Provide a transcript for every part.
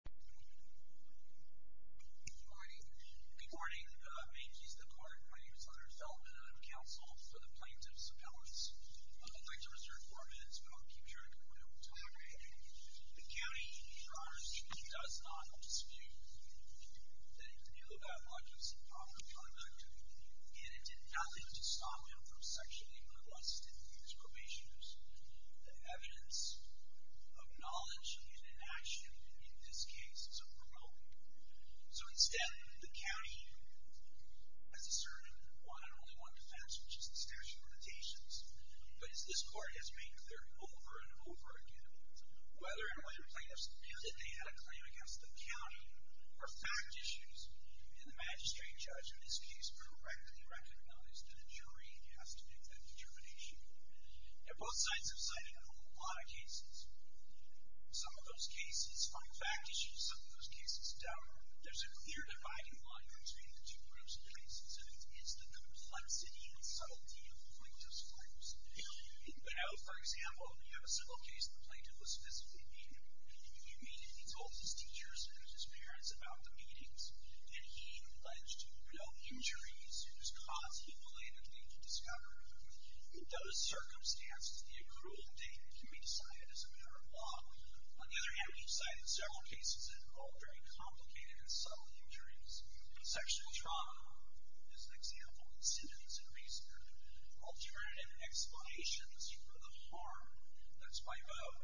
Good morning. Good morning. My name is Hunter Feldman and I'm counsel for the Plaintiffs' Appellants. I'd like to reserve four minutes, but I'll keep track of the time. The county, for honor's sake, does not dispute that the Nealovac was improper conduct and it did nothing to stop him from sexually molesting his probationers. The evidence of knowledge and inaction in this case is a promotement. So instead, the county has asserted one and only one defense, which is the statute of limitations. But as this court has made clear over and over again, whether and when plaintiffs feel that they had a claim against the county are fact issues. And the Magistrate Judge in this case correctly recognized that a jury has to make that determination. And both sides have cited a whole lot of cases. Some of those cases find fact issues, some of those cases don't. There's a clear dividing line between the two groups of cases, and it's the complexity and subtlety of the plaintiff's claims. In Bell, for example, we have a simple case the plaintiff was physically beaten. He told his teachers and his parents about the beatings, and he alleged real injuries whose cause he belatedly discovered. In those circumstances, the accrual date can be decided as a matter of law. On the other hand, we've cited several cases that involved very complicated and subtle injuries. Sexual trauma is an example, incentives and reason. Alternative explanations for the harm that's by vote,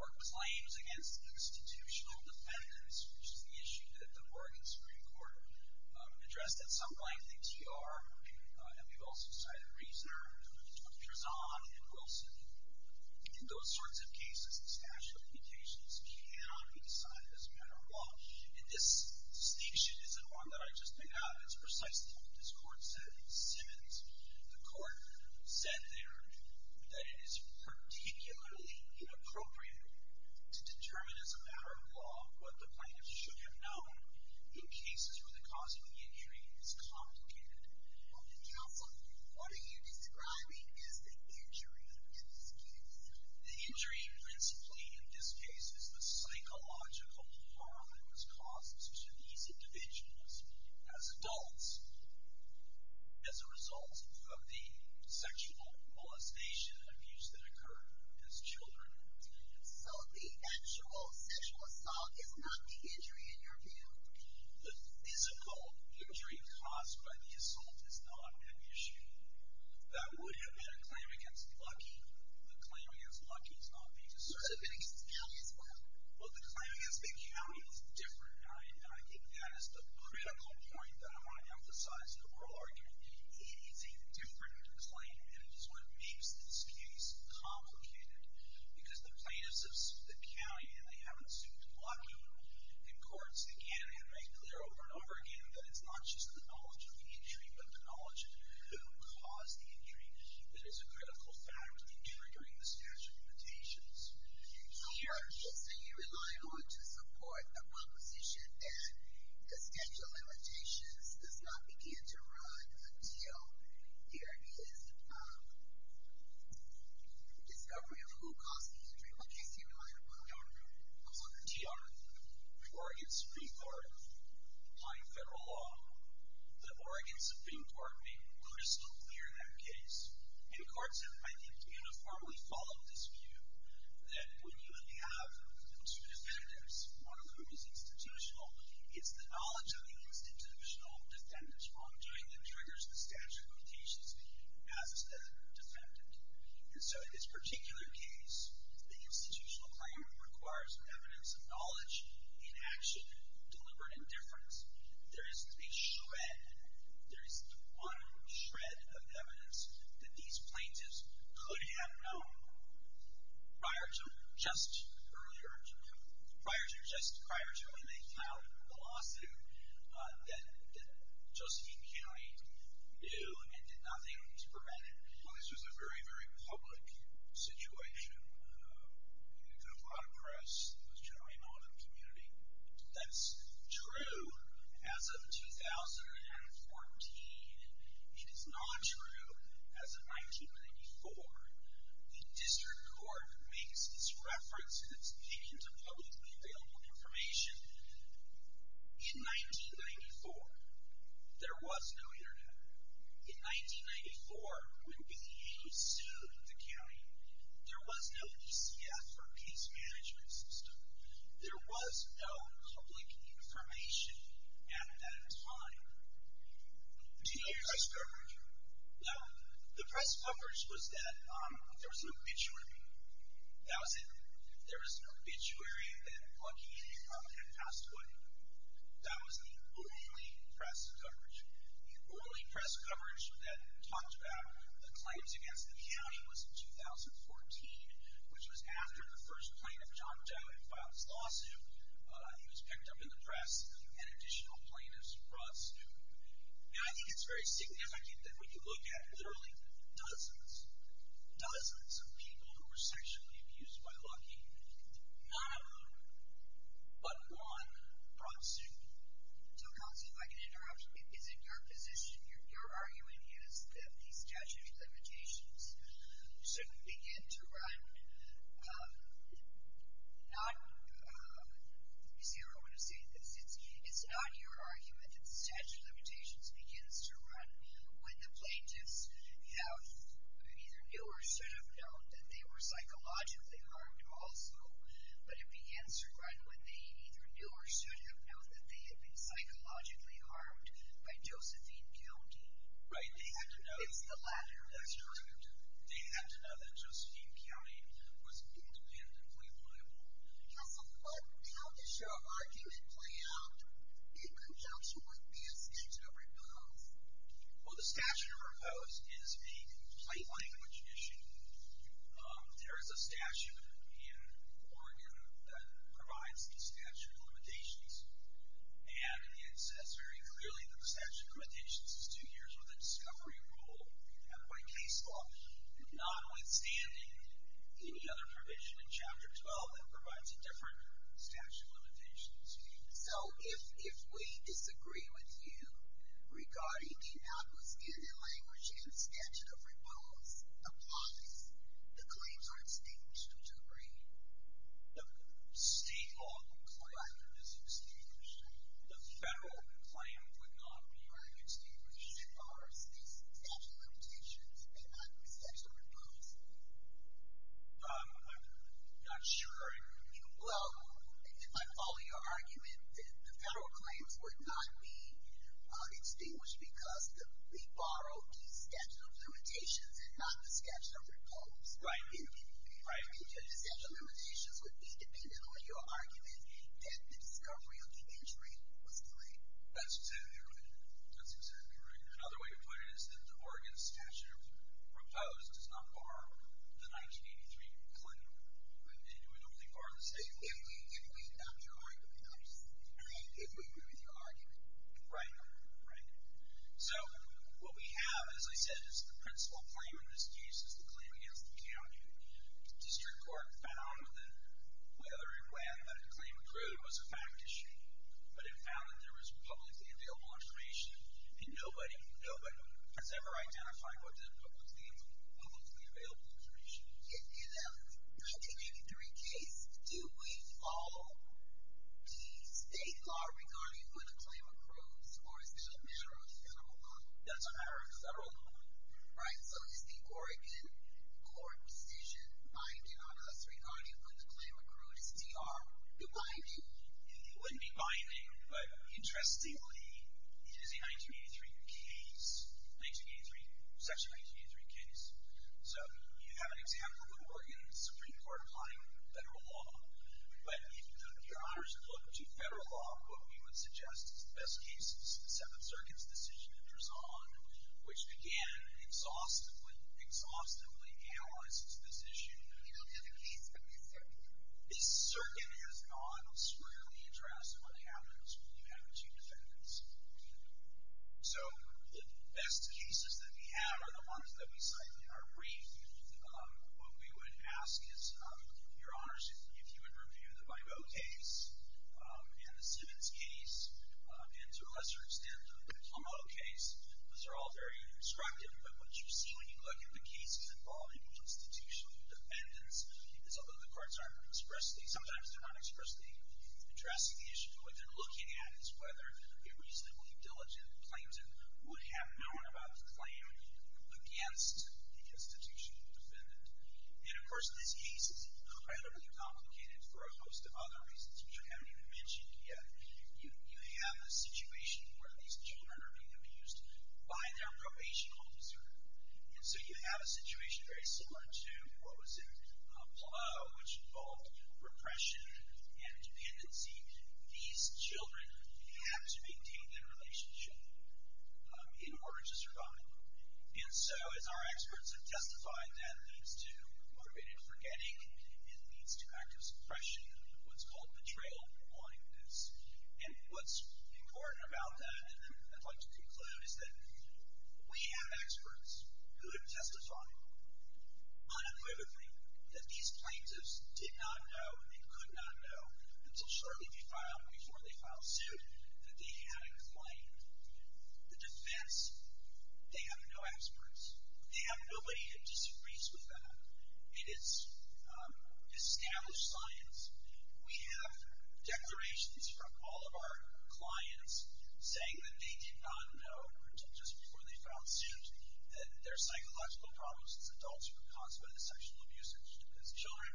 or claims against the institutional defendants, which is the issue that the Oregon Supreme Court addressed at some point in the TR. And we've also cited reasoner Trezon and Wilson. In those sorts of cases, the statute of limitations cannot be decided as a matter of law. And this distinction isn't one that I just made up. It's precisely what this court said in Simmons. The court said there that it is particularly inappropriate to determine as a matter of law what the plaintiff should have known in cases where the cause of the injury is complicated. Counsel, what are you describing as the injury in this case? The injury, principally in this case, is the psychological harm that was caused to these individuals as adults as a result of the sexual molestation abuse that occurred as children. So the actual sexual assault is not the injury in your view? The physical injury caused by the assault is not an issue. That would have been a claim against Lucky. The claim against Lucky is not the issue. It would have been against the county as well. Well, the claim against the county is different, and I think that is the critical point that I want to emphasize in the oral argument. It is a different claim, and it is what makes this case complicated. Because the plaintiffs have sued the county, and they haven't sued Lucky. And courts, again, have made clear over and over again that it's not just the knowledge of the injury but the knowledge of who caused the injury that is a critical factor in triggering the statute of limitations. So you rely on to support the proposition that the statute of limitations does not begin to run until there is a discovery of who caused the injury. What case do you rely on? I want to know. I want to know. The Oregon Supreme Court, applying federal law, the Oregon Supreme Court made brutally clear that case. And courts have, I think, uniformly followed this view that when you have two defendants, one of whom is institutional, it's the knowledge of the institutional defendant who is wrongdoing that triggers the statute of limitations as a defendant. And so in this particular case, the institutional claim requires evidence of knowledge in action, deliberate indifference. There is a shred, there is one shred of evidence that these plaintiffs could have known prior to just earlier, prior to when they filed the lawsuit, that Josephine County knew and did nothing to prevent it. Well, this was a very, very public situation. It could have gone to press. It was generally known in the community. That's true as of 2014. It is not true as of 1984. The district court makes its reference and its peek into publicly available information in 1994. There was no internet. In 1994, when we sued the county, there was no PCF, or case management system. There was no public information at that time. Do you know the press coverage? No. The press coverage was that there was an obituary. That was it. There was an obituary that Bucky had passed away. That was the only press coverage. The only press coverage that talked about the claims against the county was in 2014, which was after the first plaintiff jumped out and filed his lawsuit. He was picked up in the press, and additional plaintiffs brought suit. Now, I think it's very significant that when you look at literally dozens, dozens of people who were sexually abused by Bucky, none of them but one brought suit. So, Kelsey, if I can interrupt. Is it your position, your argument is that these statutory limitations should begin to run? You see, I don't want to say this. It's not your argument that the statute of limitations begins to run when the plaintiffs either knew or should have known that they were psychologically harmed also, but it begins to run when they either knew or should have known that they had been psychologically harmed by Josephine County. Right. It's the latter. That's correct. They had to know that Josephine County was independently liable. Now, so how does your argument play out in conjunction with these statutory bills? Well, the statute proposed is a complete language issue. There is a statute in Oregon that provides these statutory limitations, and it says very clearly that the statute of limitations is two years with a discovery rule. Now, by case law, notwithstanding any other provision in Chapter 12, it provides a different statute of limitations. So if we disagree with you regarding the outlandish language in the statute of rebuttals, applies, the claims are extinguished, which I agree. The state law claim is extinguished. The federal claim would not be extinguished. The statute of limitations may not be statutorily proposed. I'm not sure. Well, if I follow your argument, the federal claims would not be extinguished because they borrow the statute of limitations and not the statute of rebuttals. Right. The statute of limitations would be dependent on your argument that the discovery of the injury was three. That's exactly right. That's exactly right. Another way to put it is that the Oregon statute proposed does not borrow the 1983 claim. It would only borrow the statute if we agree with your argument. If we agree with your argument. Right. Right. So what we have, as I said, is the principal claim in this case is the claim against the county. The district court found whether or not a claim accrued was a fact issue, but it found that there was publicly available information, and nobody has ever identified what the publicly available information is. In the 1983 case, do we follow the state law regarding when a claim accrues, or is it a matter of several? That's a matter of several. Right. So is the Oregon court decision binding on us regarding when the claim accrued is DR binding? It wouldn't be binding, but interestingly, it is a 1983 case, 1983, section 1983 case. So you have an example of an Oregon Supreme Court applying federal law, but if your honors look to federal law, what we would suggest is the best case, the Seventh Circuit's decision enters on, which, again, exhaustively analyzes this issue. Can you look at the case that we cited? The circuit has not squarely addressed what happens when you have two defendants. So the best cases that we have are the ones that we cite in our brief. What we would ask is, your honors, if you would review the Bibo case and the Simmons case, and to a lesser extent, the Clameau case. Those are all very instructive, but what you see when you look at the cases involving institutional defendants is although the courts aren't expressing, sometimes they're not expressly addressing the issue, what they're looking at is whether a reasonably diligent plaintiff would have known about the claim against the institutional defendant. And, of course, this case is incredibly complicated for a host of other reasons that I haven't even mentioned yet. You have a situation where these children are being abused by their probation officer. And so you have a situation very similar to what was in Clameau, which involved repression and dependency. These children have to maintain their relationship in order to survive. And so, as our experts have testified, that leads to motivated forgetting. It leads to active suppression of what's called betrayal and blindness. And what's important about that, and I'd like to conclude, is that we have experts who have testified unequivocally that these plaintiffs did not know and could not know until shortly before they filed suit that they had inclined. The defense, they have no experts. They have nobody who disagrees with them. It is established science. We have declarations from all of our clients saying that they did not know until just before they filed suit that their psychological problems as adults were caused by the sexual abuse of these children.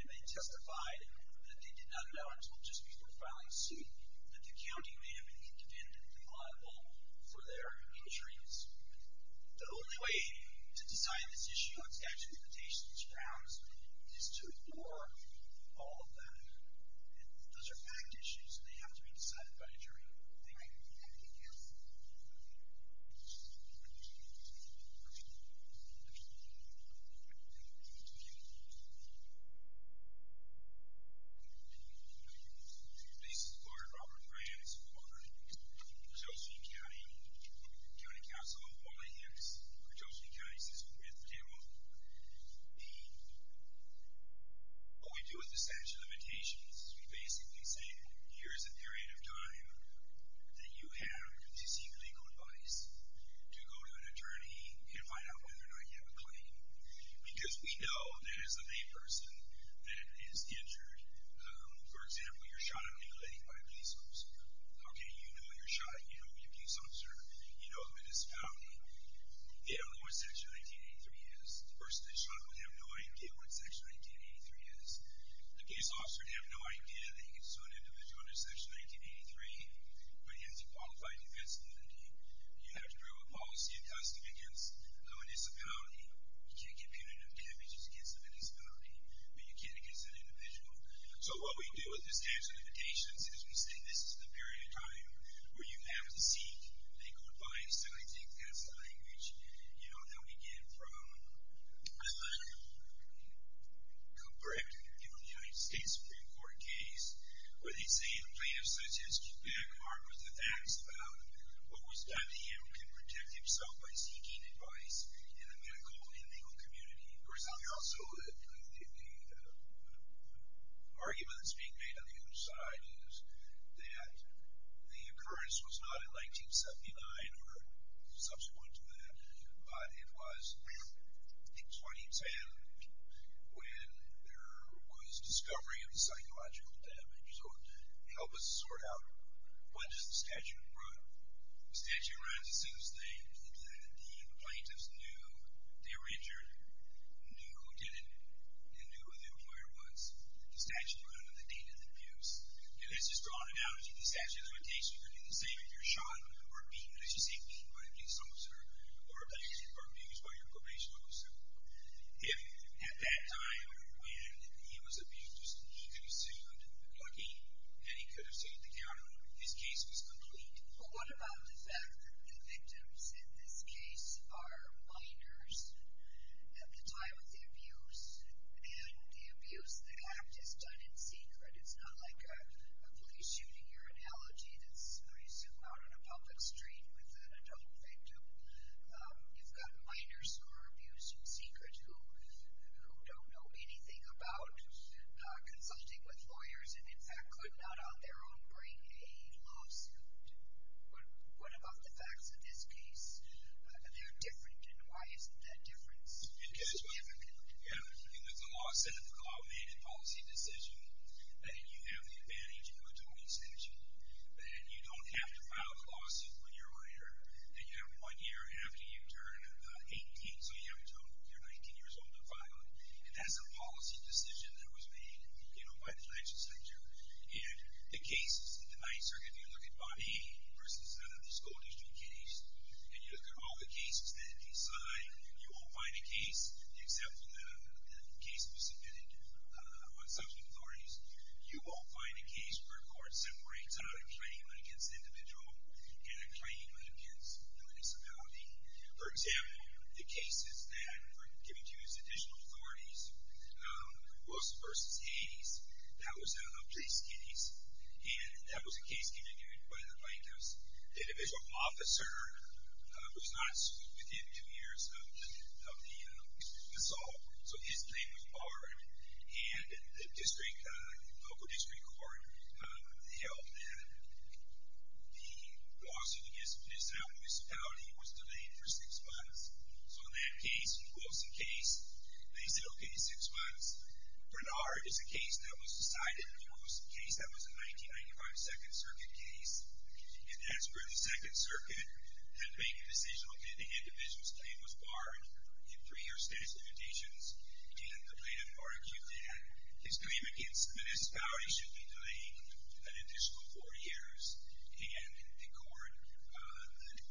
And they testified that they did not know until just before filing suit that the county may have been independently liable for their injuries. The only way to decide this issue on statute of limitations grounds is to ignore all of that. And those are fact issues, and they have to be decided by a jury. Thank you. Thank you. Please support Robert Brands for Chelsea County. County Council of Wally Hicks for Chelsea County system. We have the demo. What we do with the statute of limitations is we basically say, here is a period of time that you have to seek legal advice, to go to an attorney and find out whether or not you have a claim. Because we know there is a main person that is injured. For example, you're shot and manipulated by a police officer. Okay, you know you're shot. You know you're a police officer. You know who it is found. You have no idea what Section 1983 is. The person that's shot would have no idea what Section 1983 is. The case officer would have no idea that he's an individual under Section 1983, but he has a qualified defense liability. You have to draw a policy of custody against a disability. You can't get punitive damages against a disability, but you can against an individual. So what we do with the statute of limitations is we say this is the period of time where you have to seek legal advice, and I think that's the language. You know, that we get from a letter from Cooper, after he was given the United States Supreme Court case, where they say in a plaintiff's census, the big part was the facts about what was done to him who could protect himself by seeking advice in a medical and legal community. For example, also the argument that's being made on the other side is that the occurrence was not in 1979 or subsequent to that, but it was in 2010 when there was discovery of the psychological damage. So help us sort out, when does the statute run? The statute runs as soon as the plaintiffs knew they were injured, knew who did it, and knew who the employer was. The statute runs on the date of the abuse. And this is drawn out in the statute of limitations. You can say that you're shot or beaten. As you say, beaten by a police officer or abused by your probation officer. If at that time when he was abused, he could have sued again, and he could have sued again, his case was complete. Well, what about the fact that the victims in this case are minors at the time of the abuse, and the abuse, the act is done in secret. It's not like a police shooting or an allergy that's, I assume, out on a public street with an adult victim. You've got minors who are abused in secret who don't know anything about consulting with lawyers and, in fact, could not on their own bring a lawsuit. What about the facts of this case? They're different, and why isn't that difference significant? You have the law set up, a law-enacted policy decision, and you have the advantage of a 20-century. And you don't have to file the lawsuit when you're older. And you have one year after you turn 18, so you're 19 years old to file it. And that's a policy decision that was made by the legislature. And the cases in the Ninth Circuit, if you look at Bobby versus another scolding street case, and you look at all the cases that he signed, you won't find a case, except for the case that was submitted on subpoena authorities, you won't find a case where a court separates out a claim against an individual and a claim against a municipality. For example, the cases that were given to you as additional authorities, Wilson versus Hades, that was an uptrace case, and that was a case committed by the plaintiffs. The individual officer was not sued within two years of the assault. So his name was Barnard, and the local district court held that the lawsuit against a municipality was delayed for six months. So in that case, the Wilson case, they said, okay, six months. Barnard is a case that was decided, a case that was a 1995 Second Circuit case, and that's where the Second Circuit had made the decision that the individual's claim was barred in three-year status limitations, and the plaintiff argued that his claim against the municipality should be delayed an additional four years, and the court,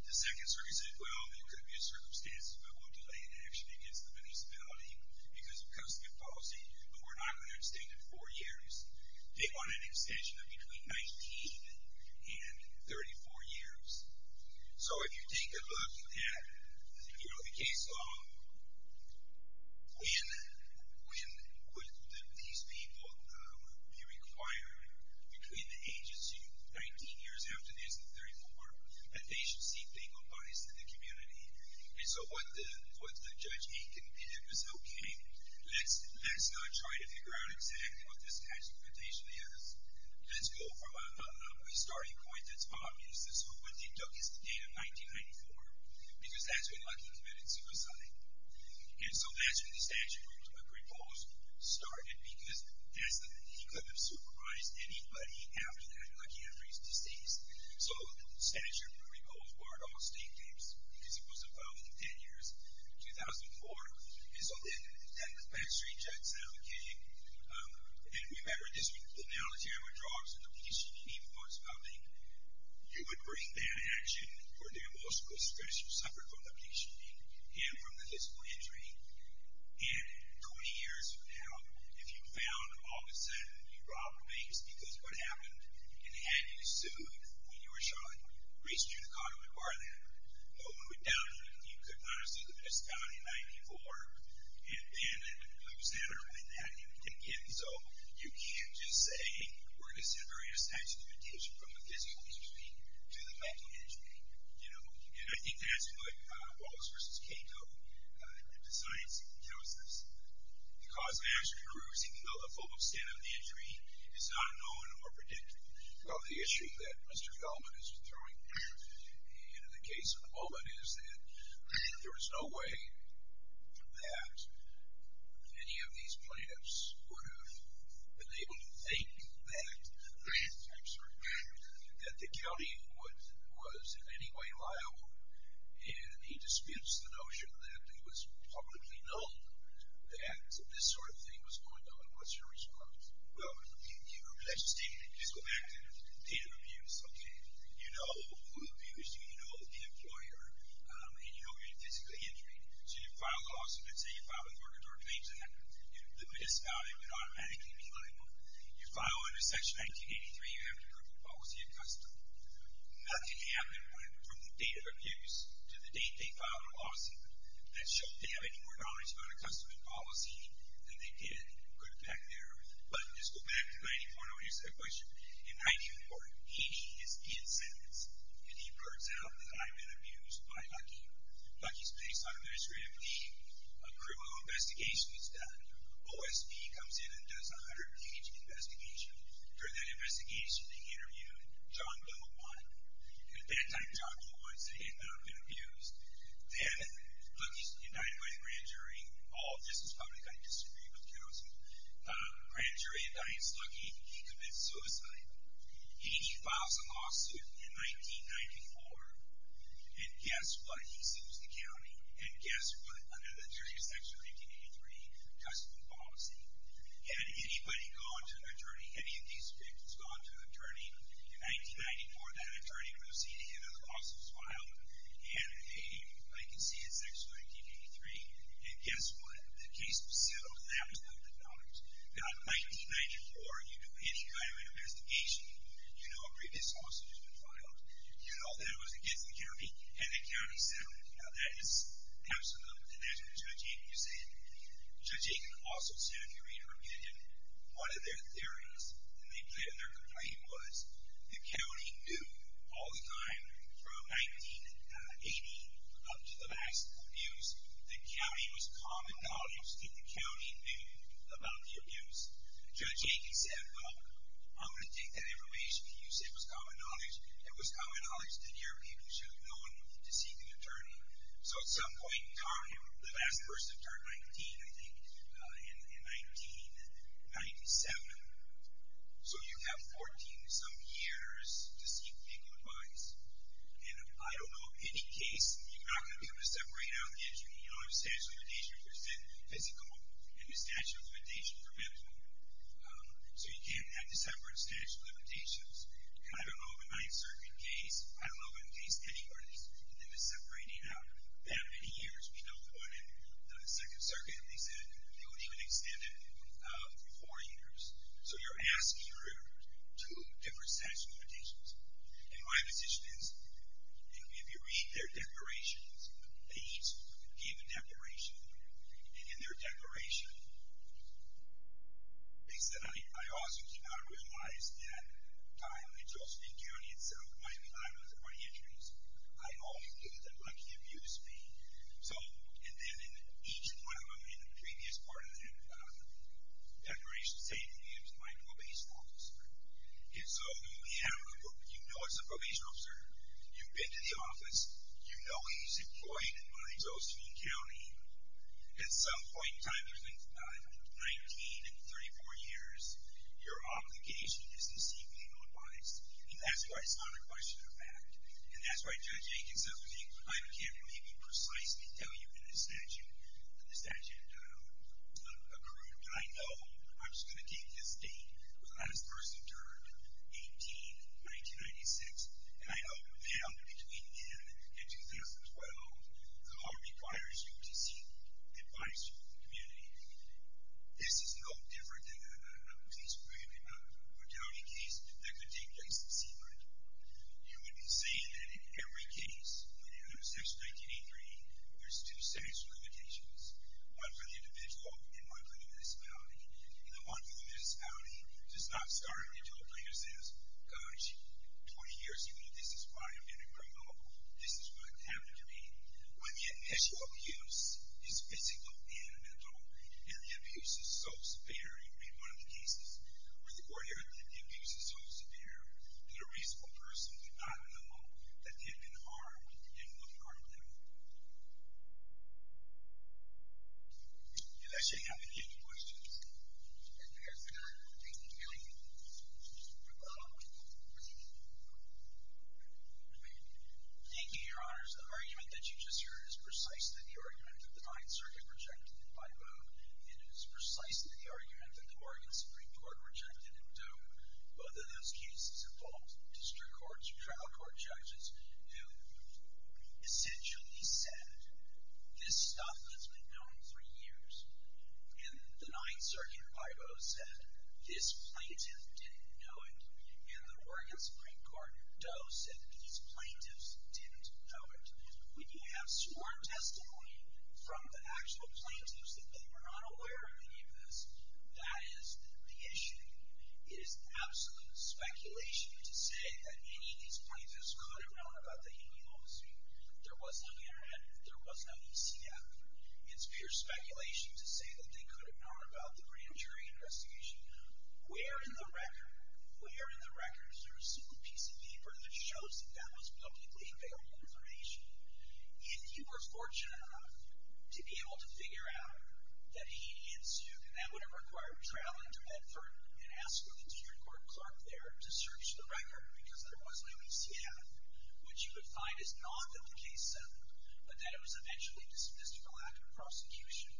the Second Circuit said, well, there could be a circumstance where we'll delay an action against the municipality because of the policy, but we're not going to extend it four years. They wanted an extension of between 19 and 34 years. So if you take a look at, you know, the case law, when would these people be required between the ages of 19 years after this and 34, that they should seek legal advice in the community? And so what Judge Aiken did was, okay, let's not try to figure out exactly what this statute limitation is. Let's go from a starting point that's obvious. This is when he took his data, 1994, because that's when Lucky committed suicide. And so that's when the statute was proposed, started, because he couldn't have supervised anybody after that, like, after he's deceased. So the statute was proposed, barred all state cases, because he wasn't found within 10 years, 2004. And so then the backstreet judge said, okay, and remember this, the military were drugs, and the PCPD was public. You would bring bad action for the emotional stress you suffered from the PCPD and from the physical injury. And 20 years from now, if you found all of a sudden you robbed a bank because of what happened, and they had you sued, and you were shot, re-scheduled a car to require that. Well, when we're done, you could not receive the case of this guy in 94, and then lose that argument. And so you can't just say, we're going to separate a statute of detention from the physical injury to the mental injury. And I think that's like Wallace versus Cato, that the science tells us. The cause of mass recruiters, even though the full extent of the injury is not known or predicted. Well, the issue that Mr. Feldman is throwing there, and the case of the moment is that there is no way that any of these plaintiffs would have been able to think that the county was in any way liable. And he dispensed the notion that it was publicly known that this sort of thing was going on. What's your response? Well, let's just go back to data abuse. Okay, you know who abused you, you know the employer, and you know your physical injury. So you file a lawsuit, let's say you file a verdict or a claim to that. The misdemeanor would automatically be liable. You file under Section 1983, you have to approve the policy of custom. Nothing happened from data abuse to the date they filed the lawsuit that showed they have any more knowledge about a custom and policy than they did. Go back there, but let's just go back to 94, and I want you to say a question. In 94, E.D. is in sentence, and he blurts out that I've been abused by Lucky. Lucky's placed on administrative leave. A criminal investigation is done. OSB comes in and does a 100-page investigation. During that investigation, they interviewed John Belmont, and at that time, John Belmont said he had not been abused. Then Lucky's indicted by the grand jury. All this is public, I disagree with counsel. Grand jury indicts Lucky. He commits suicide. E.D. files a lawsuit in 1994, and guess what? He sees the county, and guess what? Under the jury of Section 1983, custom and policy. Had anybody gone to an attorney, any of these victims gone to an attorney, in 1994, that attorney would have seen him, and the lawsuit was filed. He had a vacancy in Section 1983, and guess what? The case was settled, and that was $100. Now, in 1994, you do any kind of investigation, you know a previous lawsuit has been filed. You know that it was against the county, and the county settled it. Now, that is absolute, and that's what Judge Aiken is saying. Judge Aiken also said, if you read her opinion, one of their theories, and their complaint was, the county knew all the time, from 1980 up to the mass abuse, the county was common knowledge that the county knew about the abuse. Judge Aiken said, I'm going to take that information, you said it was common knowledge. It was common knowledge that your opinion should have known to seek an attorney. So, at some point in time, the last person turned 19, I think, in 1997. So, you have 14 and some years to seek legal advice, and I don't know of any case, you're not going to be able to separate out the injury. You know what I'm saying? So, the injury has been physical, and the statute of limitations prevents one. So, you can't have the separate statute of limitations, and I don't know of a ninth circuit case, I don't know of any case anywhere, that is separating out that many years. We don't want it. The second circuit, they said, they would even extend it for four years. So, you're asking for two different statute of limitations. And my position is, if you read their declarations, they each gave a declaration, and in their declaration, they said, I also do not realize that I'm in Josephine County, and so, I'm one of the 20 injuries. I only knew that Lucky abused me. So, and then, each one of them in the previous part of their declaration stated he was my probation officer. And so, you know it's a probation officer, you've been to the office, you know he's employed in Josephine County, at some point in time, 19 and 34 years, your obligation is to see me not wise. And that's why it's not a question of fact. And that's why Judge Aiken says, I can't really be precise to tell you in the statute, the statute of career, but I know, I'm just gonna take this date, when I was first interred, 18, 1996, and I know, between then and 2012, the law requires you to see, advises you, the community. This is no different than a police bribe, in a county case, that could take place in Seabrook. You would be saying that in every case, under section 1983, there's two statutory limitations. One for the individual, and one for the municipality. And the one for the municipality does not start until a plaintiff says, gosh, 20 years ago, this is why I'm getting removed. This is what happened to me. When the initial abuse, is physical and mental, and the abuse is so severe, you read one of the cases, where the court heard that the abuse is so severe, that a reasonable person did not know that they had been harmed, and would harm them. Did I say I have any questions? If not, thank you. Thank you, your honors. The argument that you just heard is precisely the argument that the 9th Circuit rejected it by vote, and it is precisely the argument that the Oregon Supreme Court rejected it, though both of those cases involved district courts, trial court judges, who essentially said, this stuff has been known for years, and the 9th Circuit, by vote, said, this plaintiff didn't know it, and the Oregon Supreme Court, though, said that these plaintiffs didn't know it. We do have sworn testimony from the actual plaintiffs that they were not aware of any of this. That is the issue. It is absolute speculation to say that any of these plaintiffs could have known about the hanging homicide. There was no internet. There was no ECF. It's pure speculation to say that they could have known about the grand jury investigation. Where in the records are a single piece of paper that shows that that was publicly available information? If you were fortunate enough to be able to figure out that he did sue, and that would have required traveling to Edford and asking a court clerk there to search the record, because there was no ECF, what you would find is not that the case settled, but that it was eventually dismissed for lack of prosecution.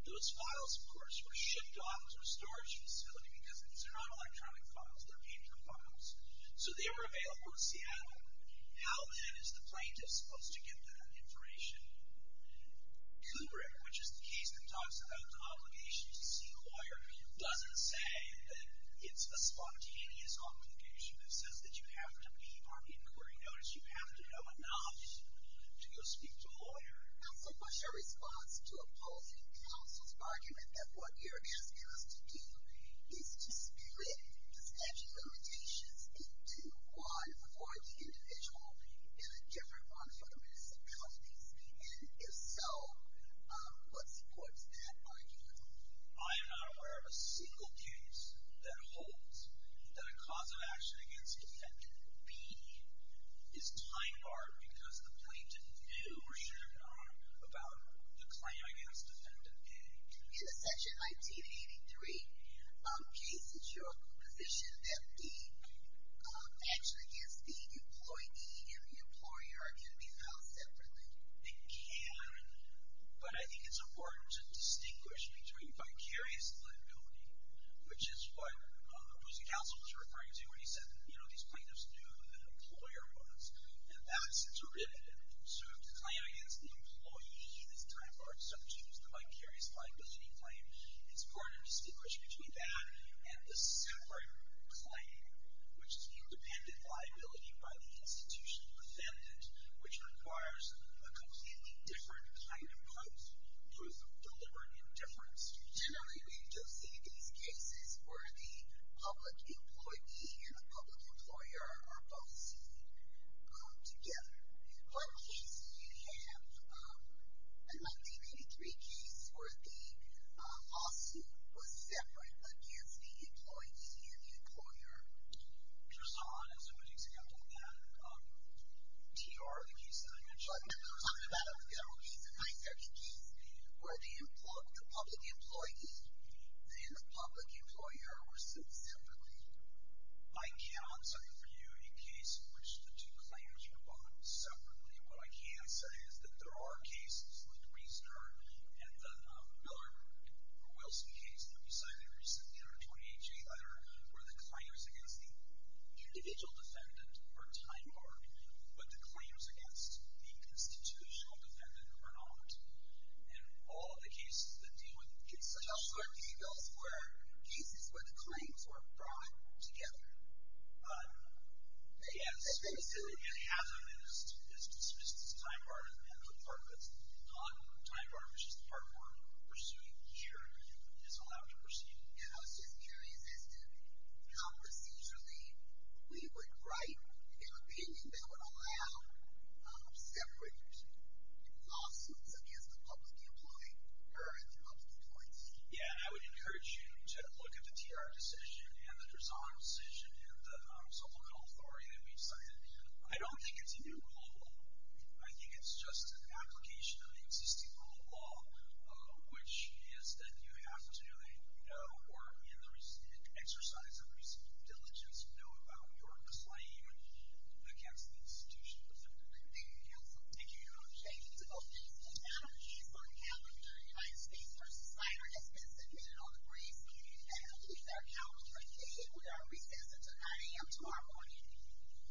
Those files, of course, were shipped off to a storage facility because these are not electronic files. They're paper files. So they were available in Seattle. How, then, is the plaintiff supposed to get that information? Kubrick, which is the case that talks about obligations to seek a lawyer, doesn't say that it's a spontaneous obligation. It says that you have to be on the inquiry notice. You have to know enough to go speak to a lawyer. Counsel, what's your response to opposing counsel's argument that what you're asking us to do is to split the statute of limitations into one for the individual and a different one for the municipalities? And if so, what supports that argument? I am not aware of a single case that holds that a cause of action against Defendant B is time-barred because the plaintiff knew or should have known about the claim against Defendant A. In the section 1983 case, is your position that B actually is the employee and the employer can be held separately? They can, but I think it's important to distinguish between vicarious liability, which is what opposing counsel was referring to when he said, you know, these plaintiffs knew that an employer was, and that's derivative. So if the claim against the employee is time-barred subject to the vicarious liability claim, it's important to distinguish between that and the separate claim, which is independent liability by the institutional defendant, which requires a completely different kind of proof of deliberate indifference. Generally, we don't see these cases where the public employee and the public employer are both seen together. What cases do you have? I might say maybe three cases where the lawsuit was separate against the employee and the employer. First of all, I don't see what you're saying. I'm talking about T.R. I'm talking about a general case, a nine-second case, where the public employee and the public employer were seen separately. I cannot cite for you a case in which the two claims were owned separately. What I can say is that there are cases, like the Wiesner and the Miller-Wilson case that we cited recently in our 28-J letter, where the claims against the individual defendant are time-barred, but the claims against the institutional defendant are not. And all of the cases that deal with such details were cases where the claims were brought together. They have a specific hazard that is dismissed as time-barred and the department's non-time-barred, which is the department we're pursuing here, is allowed to pursue. And I was just curious as to how procedurally we would write an opinion that would allow separate lawsuits against the public employee or the public employee. Yeah, I would encourage you to look at the TR decision and the Drezon decision and the civil code authority that we've cited. I don't think it's a new rule of law. I think it's just an application of an existing rule of law, which is that you have to, you know, or in the exercise of recent diligence, know about your claim against the institutional defendant. Thank you, counsel. Thank you, Your Honor. Thank you to both witnesses. Madam case on the calendar, United States v. Snyder, has been submitted on the briefs. And I believe that our counsel will proceed with our recess until 9 a.m. tomorrow morning. Ms. Schneider, you are authorized. Thank you. Thank you.